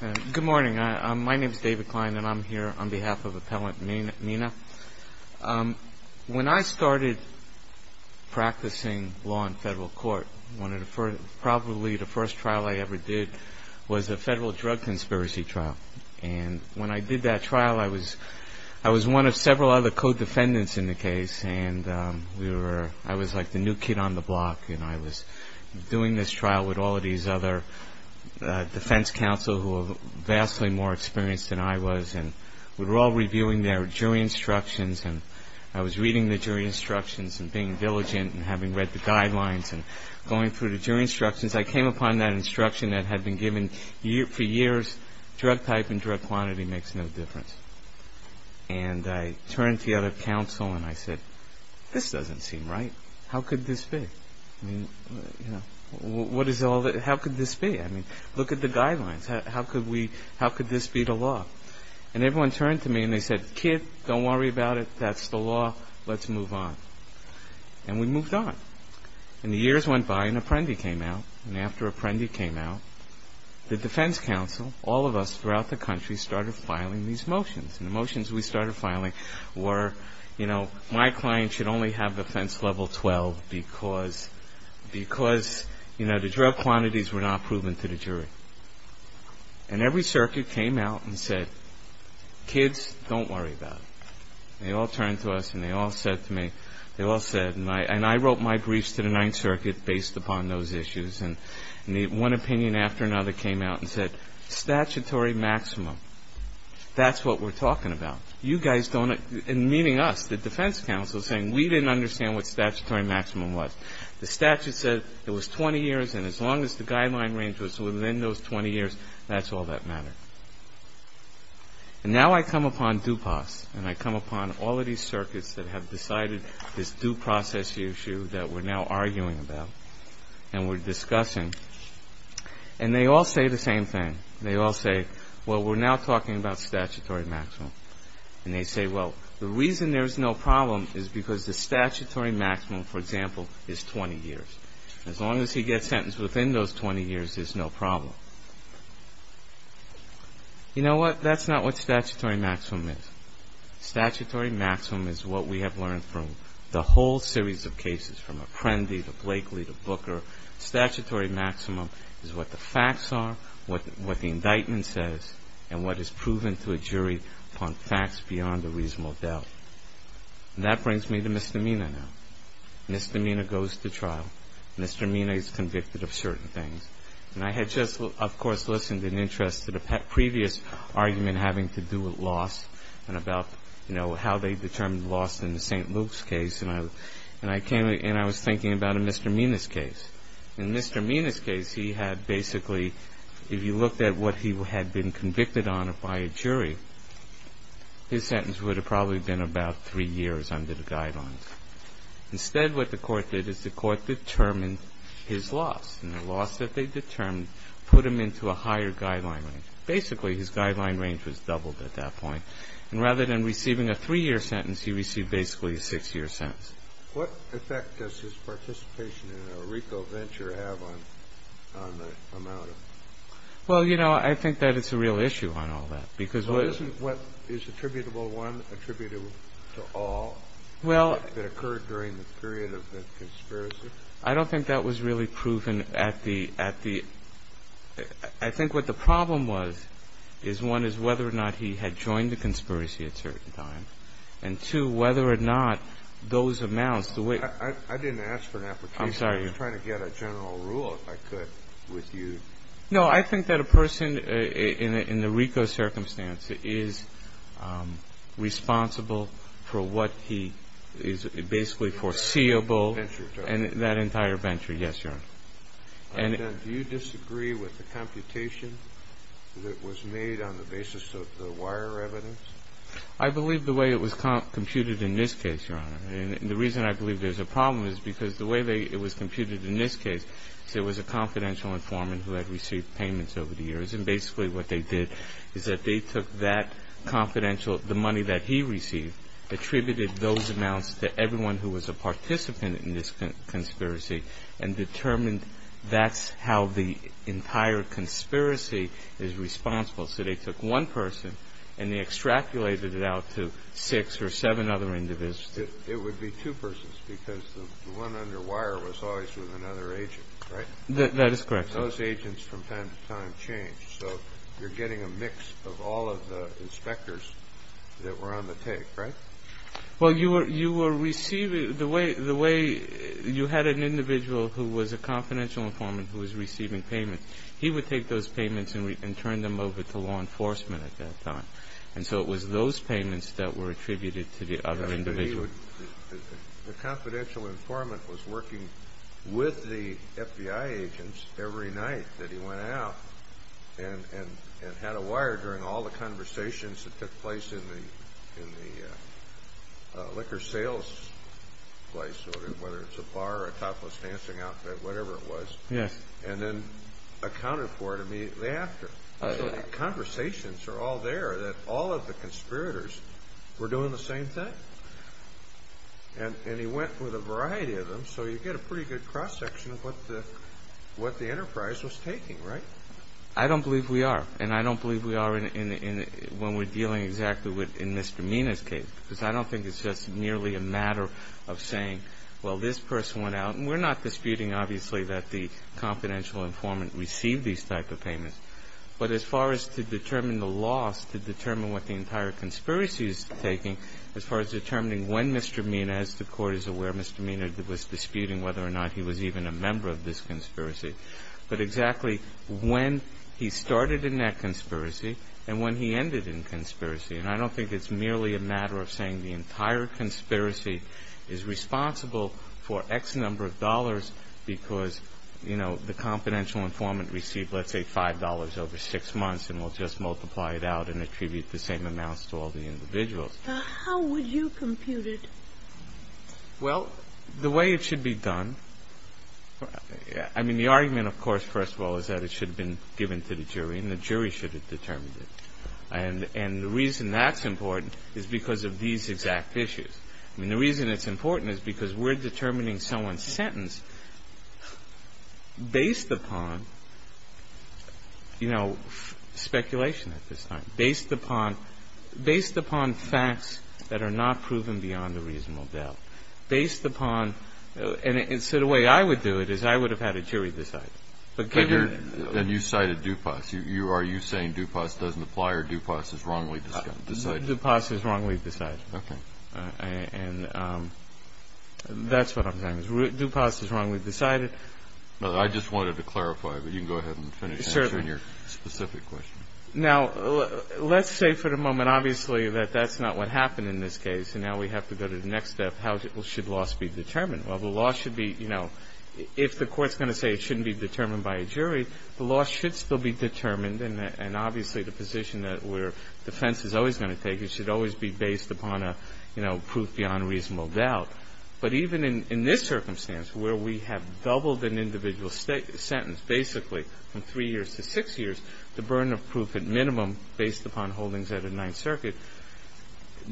When I started practicing law in federal court, probably the first trial I ever did was a federal drug conspiracy trial. When I did that trial, I was one of several other co-defendants in the case and I was like the new kid on the block. I was doing this trial with all of these other defense counsel who were vastly more experienced than I was and we were all reviewing their jury instructions. I was reading the jury instructions and being diligent and having read the guidelines and going through the jury instructions. I came upon that instruction that had been given for years, drug type and drug quantity makes no difference. I turned to the other counsel and said, this doesn't seem right. How could this be? Look at the guidelines. How could this be the law? Everyone turned to me and said, kid, don't worry about it. That's the law. Let's move on. We moved on. The years went by and Apprendi came out. After Apprendi came out, the defense counsel, all of us throughout the country, started filing these motions. The motions we started filing were, my client should only have offense level 12 because the drug quantities were not proven to the jury. Every circuit came out and said, kids, don't worry about it. They all turned to us and they all said to me, and I wrote my briefs to the Ninth Circuit based upon those issues. One opinion after another came out and said, statutory maximum, that's what we're talking about. You guys don't, meaning us, the defense counsel, saying we didn't understand what statutory maximum was. The statute said it was 20 years and as long as the guideline range was within those 20 years, that's all that mattered. And now I come upon DUPAS and I come upon all of these circuits that have decided this due process issue that we're now arguing about and we're discussing. And they all say the same thing. They all say, well, we're now talking about statutory maximum. And they say, well, the reason there's no problem is because the statutory maximum, for example, is 20 years. As long as he gets sentenced within those 20 years, there's no problem. You know what? That's not what statutory maximum is. Statutory maximum is what we have learned from the whole series of cases, from Apprendi to Blakely to Booker. Statutory maximum is what the facts are, what the indictment says, and what is proven to a jury upon facts beyond a reasonable doubt. And that brings me to misdemeanor now. Misdemeanor goes to trial. Misdemeanor is convicted of certain things. And I had just, of course, listened in interest to the previous argument having to do with loss and about, you know, how they determined loss in the St. Luke's case. And I was thinking about a Mr. Mena's case. In Mr. Mena's case, he had basically, if you looked at what he had been convicted on by a jury, his sentence would have probably been about three years under the guidelines. Instead, what the court did is the court determined his loss. And the loss that they determined put him into a higher guideline range. Basically, his guideline range was doubled at that point. And rather than receiving a three-year sentence, he received basically a six-year sentence. What effect does his participation in a RICO venture have on the amount of... Well, you know, I think that it's a real issue on all that because... Well, isn't what is attributable one attributable to all that occurred during the period of the conspiracy? I don't think that was really proven at the... I think what the problem was is, one, is whether or not he had joined the conspiracy at a certain time. And, two, whether or not those amounts, the way... I didn't ask for an application. I'm sorry. I was trying to get a general rule, if I could, with you. No, I think that a person in the RICO circumstance is responsible for what he is basically foreseeable. And that entire venture, yes, Your Honor. And do you disagree with the computation that was made on the basis of the wire evidence? I believe the way it was computed in this case, Your Honor. And the reason I believe there's a problem is because the way it was computed in this case, it was a confidential informant who had received payments over the years. And basically what they did is that they took that confidential, the money that he received, attributed those amounts to everyone who was a participant in this conspiracy and determined that's how the entire conspiracy is responsible. So they took one person and they extrapolated it out to six or seven other individuals. It would be two persons because the one under wire was always with another agent, right? That is correct, sir. Those agents from time to time change. So you're getting a mix of all of the inspectors that were on the take, right? Well, you were receiving the way you had an individual who was a confidential informant who was receiving payments. He would take those payments and turn them over to law enforcement at that time. And so it was those payments that were attributed to the other individual. The confidential informant was working with the FBI agents every night that he went out and had a wire during all the conversations that took place in the liquor sales place, whether it's a bar or a topless dancing outfit, whatever it was, and then accounted for it immediately after. So the conversations are all there that all of the conspirators were doing the same thing. And he went with a variety of them. So you get a pretty good cross-section of what the enterprise was taking, right? I don't believe we are. And I don't believe we are when we're dealing exactly in Mr. Mina's case because I don't think it's just merely a matter of saying, well, this person went out. We're not disputing, obviously, that the confidential informant received these type of payments. But as far as to determine the loss, to determine what the entire conspiracy is taking, as far as determining when Mr. Mina, as the Court is aware, Mr. Mina was disputing whether or not he was even a member of this conspiracy, but exactly when he started in that conspiracy and when he ended in conspiracy. And I don't think it's merely a matter of saying the entire conspiracy is responsible for X number of dollars because, you know, the confidential informant received, let's say, $5 over six months and will just multiply it out and attribute the same amounts to all the individuals. How would you compute it? Well, the way it should be done, I mean, the argument, of course, first of all, is that it should have been given to the jury and the jury should have determined it. And the reason that's important is because of these exact issues. I mean, the reason it's important is because we're determining someone's sentence based upon, you know, speculation at this time, based upon facts that are not proven beyond a reasonable doubt, based upon. And so the way I would do it is I would have had a jury decide. And you cited DuPas. Are you saying DuPas doesn't apply or DuPas is wrongly decided? DuPas is wrongly decided. Okay. And that's what I'm saying. DuPas is wrongly decided. I just wanted to clarify, but you can go ahead and finish answering your specific question. Certainly. Now, let's say for the moment, obviously, that that's not what happened in this case and now we have to go to the next step, how should loss be determined? Well, the loss should be, you know, if the court's going to say it shouldn't be determined by a jury, the loss should still be determined. And obviously the position where defense is always going to take it should always be based upon a, you know, proof beyond a reasonable doubt. But even in this circumstance where we have doubled an individual sentence, basically, from three years to six years, the burden of proof at minimum based upon holdings at a Ninth Circuit,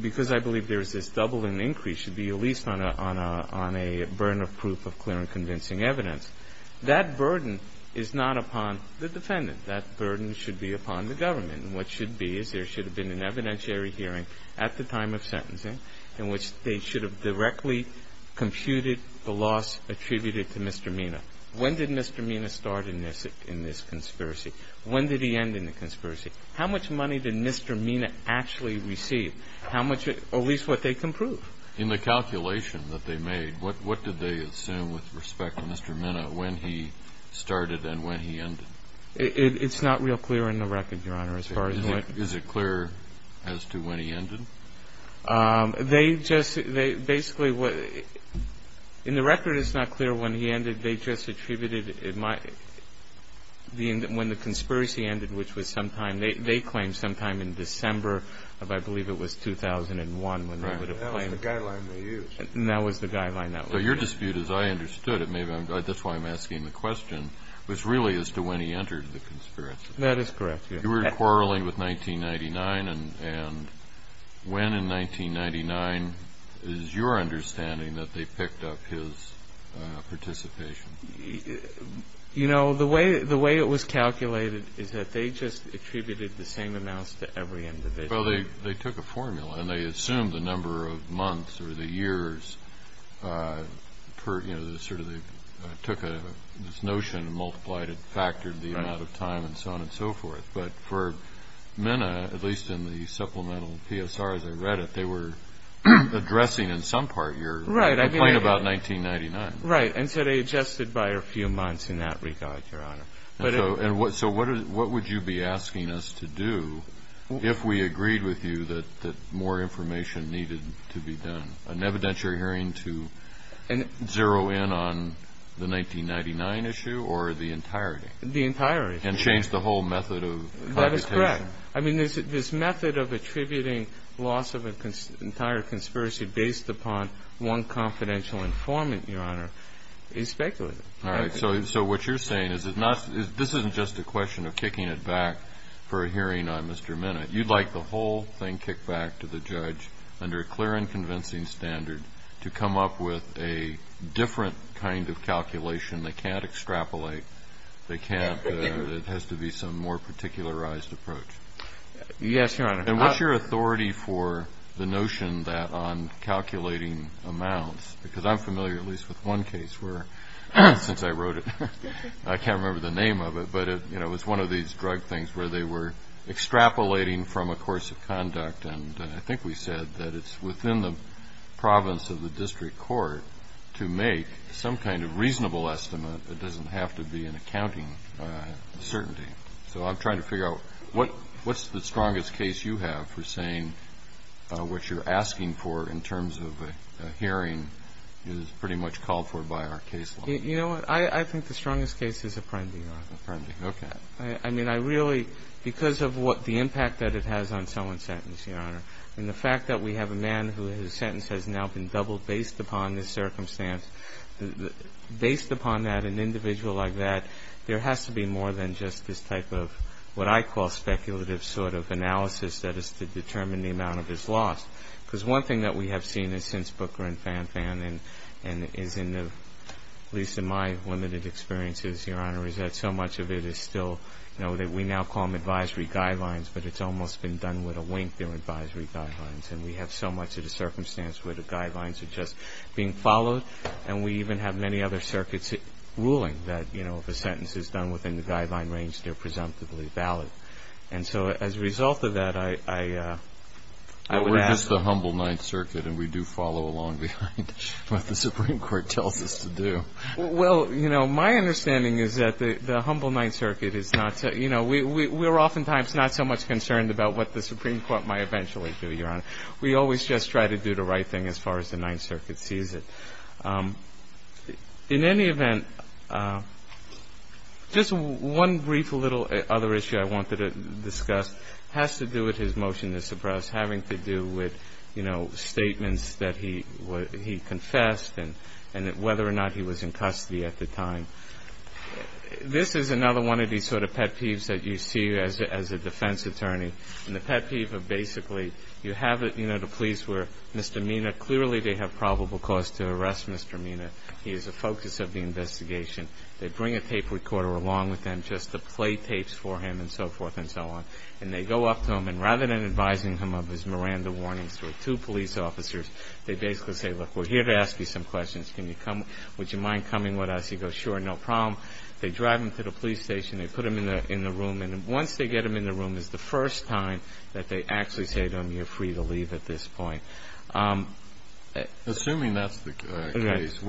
because I believe there is this double and increase should be at least on a burden of proof of clear and convincing evidence. That burden is not upon the defendant. That burden should be upon the government. And what should be is there should have been an evidentiary hearing at the time of sentencing in which they should have directly computed the loss attributed to Mr. Mina. When did Mr. Mina start in this conspiracy? When did he end in the conspiracy? How much money did Mr. Mina actually receive? How much, at least what they can prove. In the calculation that they made, what did they assume with respect to Mr. Mina when he started and when he ended? It's not real clear in the record, Your Honor, as far as what. Is it clear as to when he ended? They just, basically, in the record it's not clear when he ended. They just attributed it, when the conspiracy ended, which was sometime, they claim sometime in December of I believe it was 2001 when they would have claimed. That was the guideline they used. That was the guideline that was used. So your dispute, as I understood it, maybe that's why I'm asking the question, was really as to when he entered the conspiracy. That is correct, yes. You were quarreling with 1999, and when in 1999 is your understanding that they picked up his participation? You know, the way it was calculated is that they just attributed the same amounts to every individual. Well, they took a formula and they assumed the number of months or the years, sort of they took this notion and multiplied it, factored the amount of time and so on and so forth. But for Minna, at least in the supplemental PSR as I read it, they were addressing in some part your complaint about 1999. Right. And so they adjusted by a few months in that regard, Your Honor. So what would you be asking us to do if we agreed with you that more information needed to be done? An evidentiary hearing to zero in on the 1999 issue or the entirety? The entirety. And change the whole method of computation? That is correct. I mean, this method of attributing loss of an entire conspiracy based upon one confidential informant, Your Honor, is speculative. All right. So what you're saying is this isn't just a question of kicking it back for a hearing on Mr. Minna. You'd like the whole thing kicked back to the judge under a clear and convincing standard to come up with a different kind of calculation. They can't extrapolate. They can't. It has to be some more particularized approach. Yes, Your Honor. And what's your authority for the notion that on calculating amounts, because I'm familiar at least with one case where, since I wrote it, I can't remember the name of it, but it was one of these drug things where they were extrapolating from a course of conduct. And I think we said that it's within the province of the district court to make some kind of reasonable estimate that doesn't have to be an accounting certainty. So I'm trying to figure out what's the strongest case you have for saying what you're asking for in terms of a hearing is pretty much called for by our case law. You know what? I think the strongest case is Apprendi, Your Honor. Apprendi. Okay. I mean, I really, because of what the impact that it has on someone's sentence, Your Honor, and the fact that we have a man whose sentence has now been doubled based upon this circumstance, based upon that, an individual like that, there has to be more than just this type of what I call speculative sort of analysis that is to determine the amount of his loss. Because one thing that we have seen is since Booker and Fanfan and is in at least in my limited experiences, Your Honor, is that so much of it is still, you know, that we now call them advisory guidelines, but it's almost been done with a wink, they're advisory guidelines. And we have so much of the circumstance where the guidelines are just being followed, and we even have many other circuits ruling that, you know, if a sentence is done within the guideline range, they're presumptively valid. And so as a result of that, I would ask. But we're just the humble Ninth Circuit, and we do follow along behind what the Supreme Court tells us to do. Well, you know, my understanding is that the humble Ninth Circuit is not, you know, we're oftentimes not so much concerned about what the Supreme Court might eventually do, Your Honor. We always just try to do the right thing as far as the Ninth Circuit sees it. In any event, just one brief little other issue I wanted to discuss has to do with his motion to suppress, and it's having to do with, you know, statements that he confessed, and whether or not he was in custody at the time. This is another one of these sort of pet peeves that you see as a defense attorney. And the pet peeve of basically you have, you know, the police where Mr. Mina, clearly they have probable cause to arrest Mr. Mina. He is the focus of the investigation. They bring a tape recorder along with them just to play tapes for him and so forth and so on. And they go up to him, and rather than advising him of his Miranda warnings to two police officers, they basically say, look, we're here to ask you some questions. Would you mind coming with us? He goes, sure, no problem. They drive him to the police station. They put him in the room, and once they get him in the room, it's the first time that they actually say to him you're free to leave at this point. Assuming that's the case,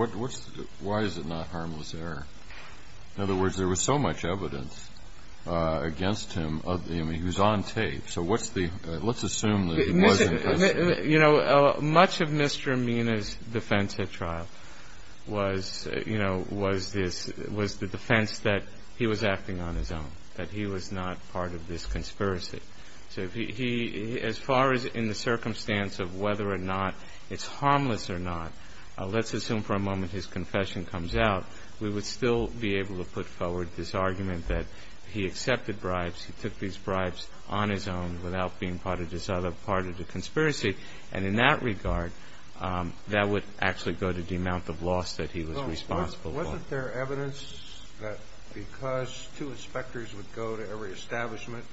why is it not harmless error? In other words, there was so much evidence against him, I mean, he was on tape. So let's assume that he was in custody. You know, much of Mr. Mina's defense at trial was, you know, was the defense that he was acting on his own, that he was not part of this conspiracy. So as far as in the circumstance of whether or not it's harmless or not, let's assume for a moment his confession comes out, we would still be able to put forward this argument that he accepted bribes, he took these bribes on his own without being part of the conspiracy. And in that regard, that would actually go to the amount of loss that he was responsible for. Well, wasn't there evidence that because two inspectors would go to every establishment,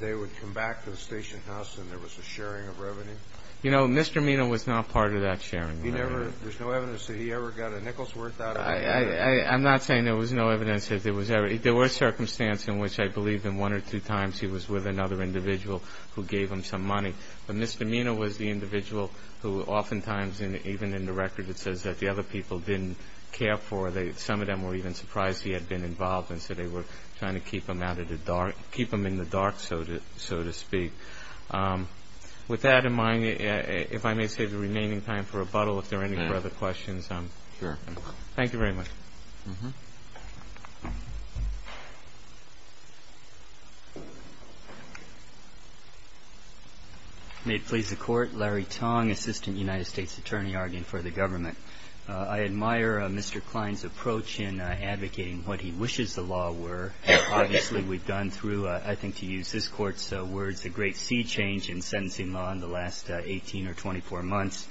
they would come back to the station house and there was a sharing of revenue? You know, Mr. Mina was not part of that sharing of revenue. There's no evidence that he ever got a nickel's worth out of it? I'm not saying there was no evidence. There were circumstances in which I believe in one or two times he was with another individual who gave him some money. But Mr. Mina was the individual who oftentimes, even in the record, it says that the other people didn't care for him. Some of them were even surprised he had been involved, and so they were trying to keep him in the dark, so to speak. With that in mind, if I may save the remaining time for rebuttal, if there are any further questions. Sure. Thank you very much. May it please the Court. Larry Tong, Assistant United States Attorney, arguing for the government. I admire Mr. Klein's approach in advocating what he wishes the law were. Obviously, we've gone through, I think to use this Court's words, a great sea change in sentencing law in the last 18 or 24 months.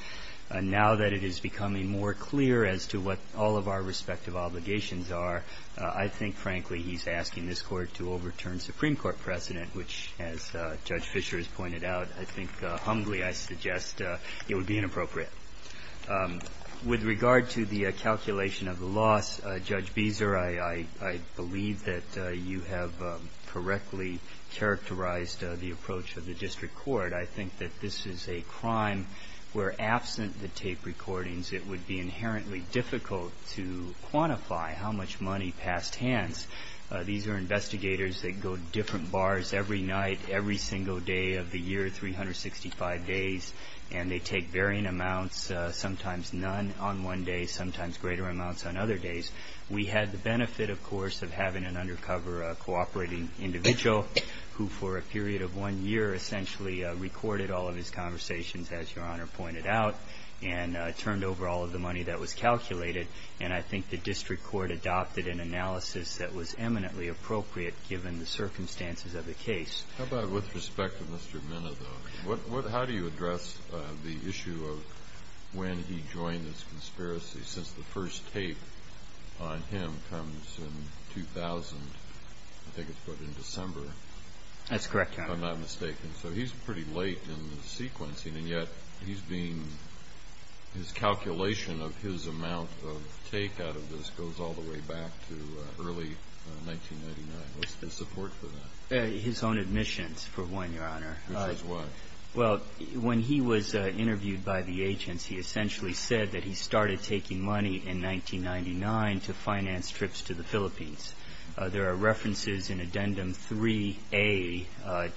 Now that it is becoming more clear as to what all of our respective obligations are, I think, frankly, he's asking this Court to overturn Supreme Court precedent, which, as Judge Fischer has pointed out, I think, humbly I suggest it would be inappropriate. With regard to the calculation of the loss, Judge Beezer, I believe that you have correctly characterized the approach of the district court. I think that this is a crime where, absent the tape recordings, it would be inherently difficult to quantify how much money passed hands. These are investigators that go to different bars every night, every single day of the year, 365 days, and they take varying amounts, sometimes none on one day, sometimes greater amounts on other days. We had the benefit, of course, of having an undercover cooperating individual who, for a period of one year, essentially recorded all of his conversations, as Your Honor pointed out, and turned over all of the money that was calculated. And I think the district court adopted an analysis that was eminently appropriate, given the circumstances of the case. How about with respect to Mr. Minna, though? How do you address the issue of when he joined this conspiracy? Since the first tape on him comes in 2000, I think it's put in December. That's correct, Your Honor. If I'm not mistaken. So he's pretty late in the sequencing, and yet his calculation of his amount of take out of this goes all the way back to early 1999. What's the support for that? His own admissions, for one, Your Honor. Which was what? Well, when he was interviewed by the agents, he essentially said that he started taking money in 1999 to finance trips to the Philippines. There are references in Addendum 3A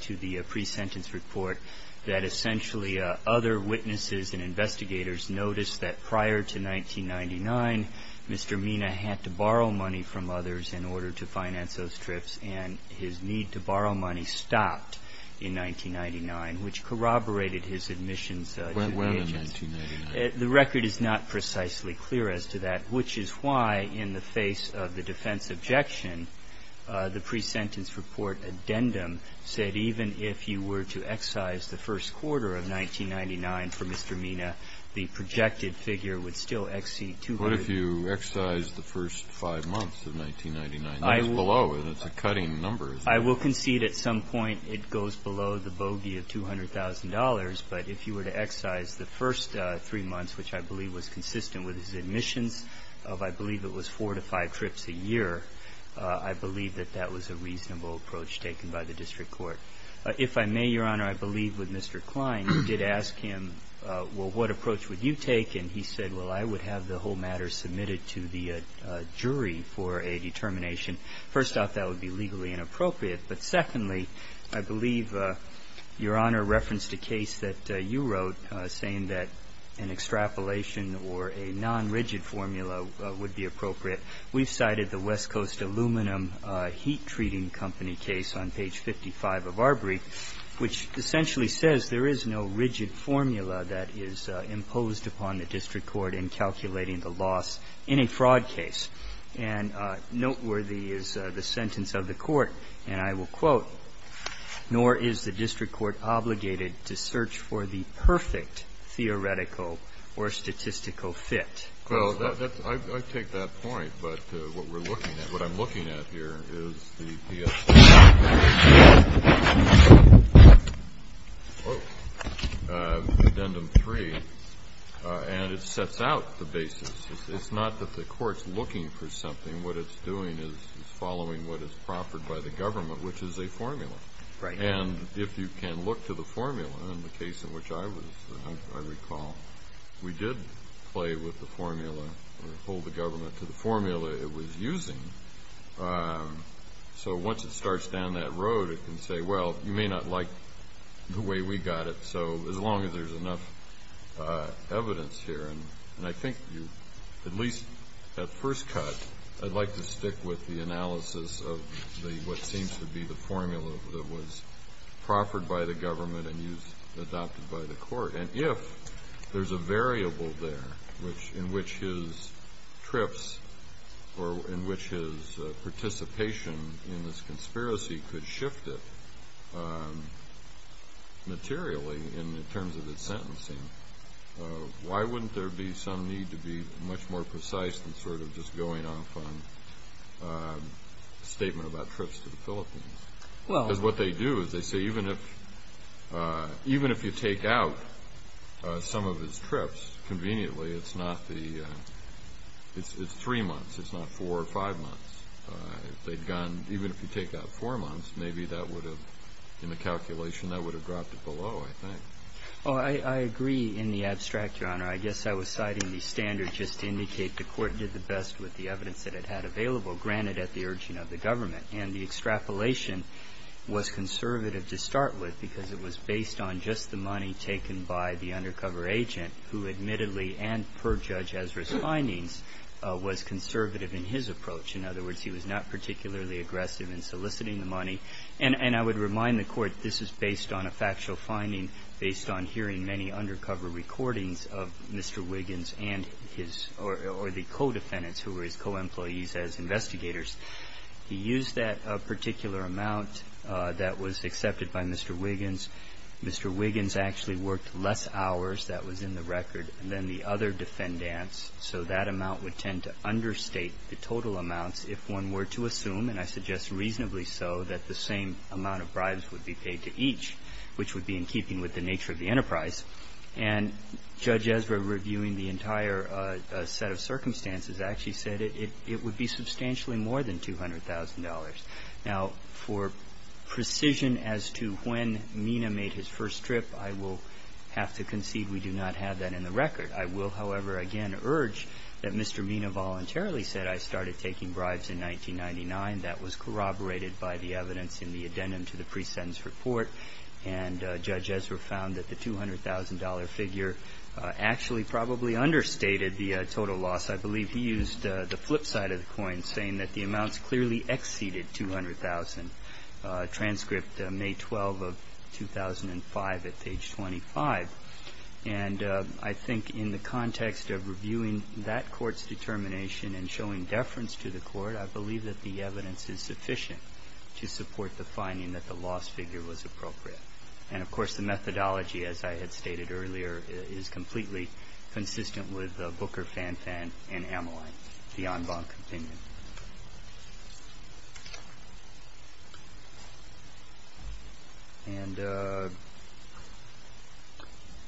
to the pre-sentence report that essentially other witnesses and investigators noticed that prior to 1999, Mr. Minna had to borrow money from others in order to finance those trips, and his need to borrow money stopped in 1999, which corroborated his admissions to the agents. When in 1999? The record is not precisely clear as to that, which is why in the face of the defense objection, the pre-sentence report addendum said even if you were to excise the first quarter of 1999 for Mr. Minna, the projected figure would still exceed 200. What if you excise the first five months of 1999? That is below. That's a cutting number. I will concede at some point it goes below the bogey of $200,000, but if you were to excise the first three months, which I believe was consistent with his admissions of I believe it was four to five trips a year, I believe that that was a reasonable approach taken by the district court. If I may, Your Honor, I believe with Mr. Klein, you did ask him, well, what approach would you take, and he said, well, I would have the whole matter submitted to the jury for a determination. First off, that would be legally inappropriate. But secondly, I believe Your Honor referenced a case that you wrote saying that an extrapolation or a nonrigid formula would be appropriate. We've cited the West Coast Aluminum Heat Treating Company case on page 55 of our brief, which essentially says there is no rigid formula that is imposed upon the district court in calculating the loss in a fraud case. And noteworthy is the sentence of the court, and I will quote, nor is the district court obligated to search for the perfect theoretical or statistical fit. Well, I take that point. But what we're looking at, what I'm looking at here is the PSA. Whoa. Addendum 3. And it sets out the basis. It's not that the court's looking for something. What it's doing is following what is proffered by the government, which is a formula. Right. And if you can look to the formula, in the case in which I was, I recall, we did play with the formula or hold the government to the formula it was using. So once it starts down that road, it can say, well, you may not like the way we got it. So as long as there's enough evidence here, and I think you at least at first cut, I'd like to stick with the analysis of what seems to be the formula that was proffered by the government and adopted by the court. And if there's a variable there in which his trips or in which his participation in this conspiracy could shift it materially in terms of its sentencing, why wouldn't there be some need to be much more precise than sort of just going off on a statement about trips to the Philippines? Well. Because what they do is they say even if you take out some of his trips, conveniently it's three months. It's not four or five months. If they'd gone, even if you take out four months, maybe that would have, in the calculation, that would have dropped it below, I think. Oh, I agree in the abstract, Your Honor. I guess I was citing the standard just to indicate the court did the best with the evidence that it had available, granted at the urging of the government. And the extrapolation was conservative to start with because it was based on just the money taken by the undercover agent, who admittedly and per Judge Ezra's findings, was conservative in his approach. In other words, he was not particularly aggressive in soliciting the money. And I would remind the Court this is based on a factual finding, based on hearing many undercover recordings of Mr. Wiggins and his or the co-defendants who were his co-employees as investigators. He used that particular amount that was accepted by Mr. Wiggins. Mr. Wiggins actually worked less hours, that was in the record, than the other defendants. So that amount would tend to understate the total amounts, if one were to assume, and I suggest reasonably so, that the same amount of bribes would be paid to each, which would be in keeping with the nature of the enterprise. And Judge Ezra, reviewing the entire set of circumstances, actually said it would be substantially more than $200,000. Now, for precision as to when Mina made his first trip, I will have to concede we do not have that in the record. I will, however, again, urge that Mr. Mina voluntarily said, I started taking bribes in 1999. That was corroborated by the evidence in the addendum to the pre-sentence report. And Judge Ezra found that the $200,000 figure actually probably understated the total loss. I believe he used the flip side of the coin, saying that the amounts clearly exceeded $200,000, transcript May 12 of 2005 at page 25. And I think in the context of reviewing that court's determination and showing deference to the court, I believe that the evidence is sufficient to support the finding that the loss figure was appropriate. And, of course, the methodology, as I had stated earlier, is completely consistent with Booker, Fanfan, and Ameline, the en banc opinion.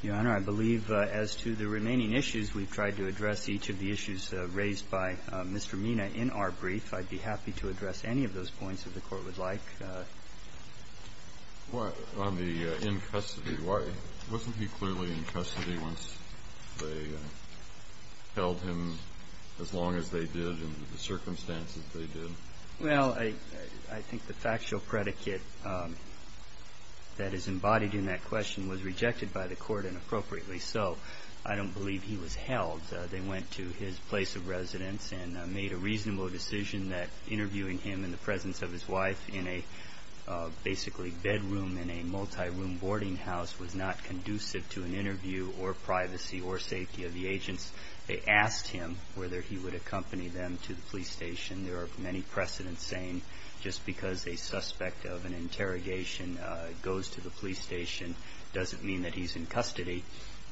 Your Honor, I believe as to the remaining issues, we've tried to address each of the issues raised by Mr. Mina in our brief. I'd be happy to address any of those points if the Court would like. On the in custody, wasn't he clearly in custody once they held him as long as they did, in the circumstances they did? Well, I think the factual predicate that is embodied in that question was rejected by the Court, and appropriately so. I don't believe he was held. They went to his place of residence and made a reasonable decision that interviewing him in the presence of his wife in a basically bedroom, in a multi-room boarding house, was not conducive to an interview or privacy or safety of the agents. They asked him whether he would accompany them to the police station. There are many precedents saying just because a suspect of an interrogation goes to the police station doesn't mean that he's in custody.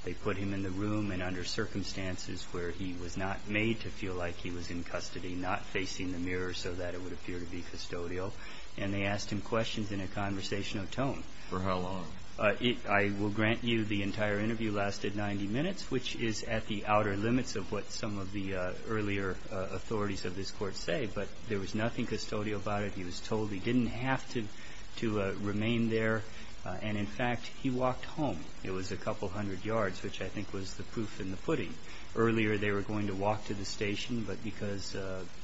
They put him in the room and under circumstances where he was not made to feel like he was in custody, not facing the mirror so that it would appear to be custodial, and they asked him questions in a conversational tone. For how long? I will grant you the entire interview lasted 90 minutes, which is at the outer limits of what some of the earlier authorities of this Court say. But there was nothing custodial about it. He was told he didn't have to remain there. And, in fact, he walked home. It was a couple hundred yards, which I think was the proof in the pudding. Earlier they were going to walk to the station, but because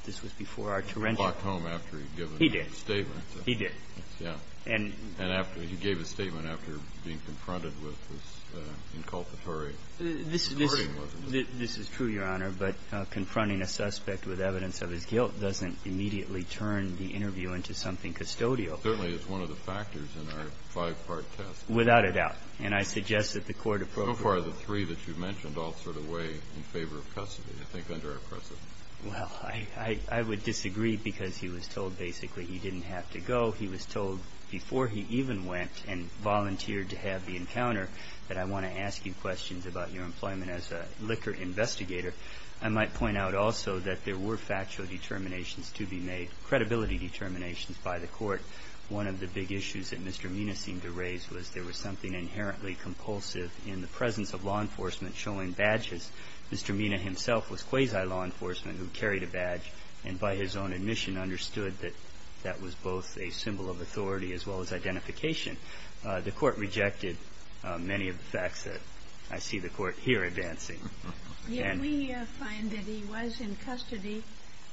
this was before our torrential. He walked home after he'd given a statement. He did. He did. Yes. And after he gave a statement after being confronted with this inculpatory. This is true, Your Honor, but confronting a suspect with evidence of his guilt doesn't immediately turn the interview into something custodial. Certainly it's one of the factors in our five-part test. Without a doubt. And I suggest that the Court approves. So far the three that you mentioned all sort of weigh in favor of custody. I think under our precedent. Well, I would disagree because he was told basically he didn't have to go. He was told before he even went and volunteered to have the encounter that I want to ask you questions about your employment as a liquor investigator. I might point out also that there were factual determinations to be made, credibility determinations by the Court. One of the big issues that Mr. Mina seemed to raise was there was something inherently compulsive in the presence of law enforcement showing badges. Mr. Mina himself was quasi-law enforcement who carried a badge and by his own admission understood that that was both a symbol of authority as well as identification. The Court rejected many of the facts that I see the Court here advancing. Yet we find that he was in custody.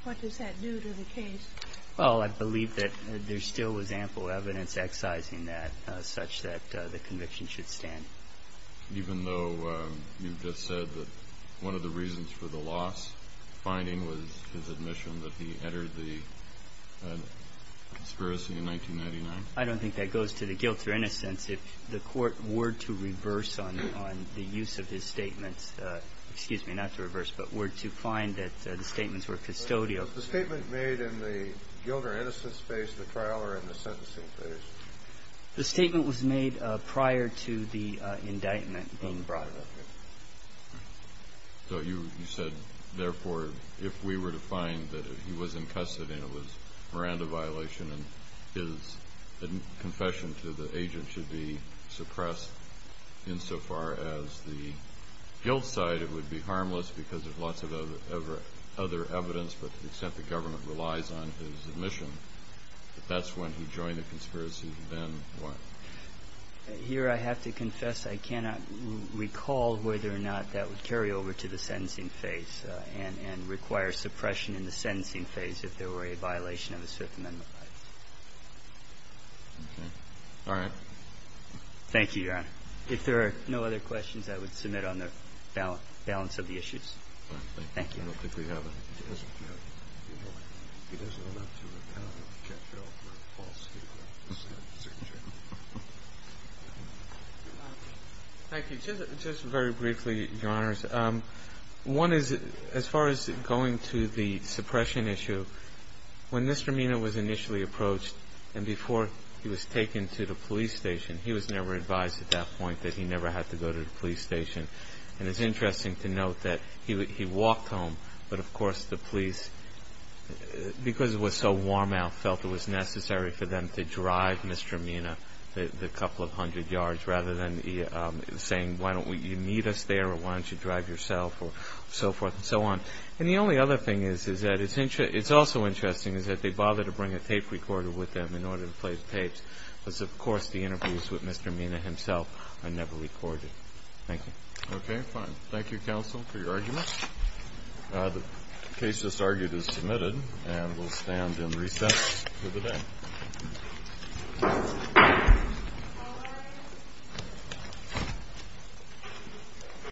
What does that do to the case? Well, I believe that there still was ample evidence excising that such that the conviction should stand. Even though you've just said that one of the reasons for the loss finding was his admission that he entered the conspiracy in 1999? I don't think that goes to the guilt or innocence. If the Court were to reverse on the use of his statements, excuse me, not to reverse, but were to find that the statements were custodial. Was the statement made in the guilt or innocence phase of the trial or in the sentencing phase? The statement was made prior to the indictment being brought. So you said, therefore, if we were to find that he was in custody and it was a Miranda violation and his confession to the agent should be suppressed insofar as the guilt side, it would be harmless because there's lots of other evidence, but to the extent the government relies on his admission, that that's when he joined the conspiracy and then what? Here I have to confess I cannot recall whether or not that would carry over to the sentencing phase and require suppression in the sentencing phase if there were a violation of his Fifth Amendment rights. Okay. All right. Thank you, Your Honor. If there are no other questions, I would submit on the balance of the issues. Thank you. I don't think we have any. He doesn't have to. I don't know if we can catch up with Paul Skidmore. Thank you. Just very briefly, Your Honors. One is as far as going to the suppression issue, when Mr. Mina was initially approached and before he was taken to the police station, he was never advised at that point that he never had to go to the police station. And it's interesting to note that he walked home, but, of course, the police, because it was so warm out, felt it was necessary for them to drive Mr. Mina the couple of hundred yards rather than saying, why don't you meet us there, or why don't you drive yourself, or so forth and so on. And the only other thing is that it's also interesting is that they bothered to bring a tape recorder with them in order to play the tapes, because, of course, the interviews with Mr. Mina himself are never recorded. Thank you. Okay, fine. Thank you, counsel, for your arguments. The case just argued is submitted, and we'll stand and recess for the day. Thank you.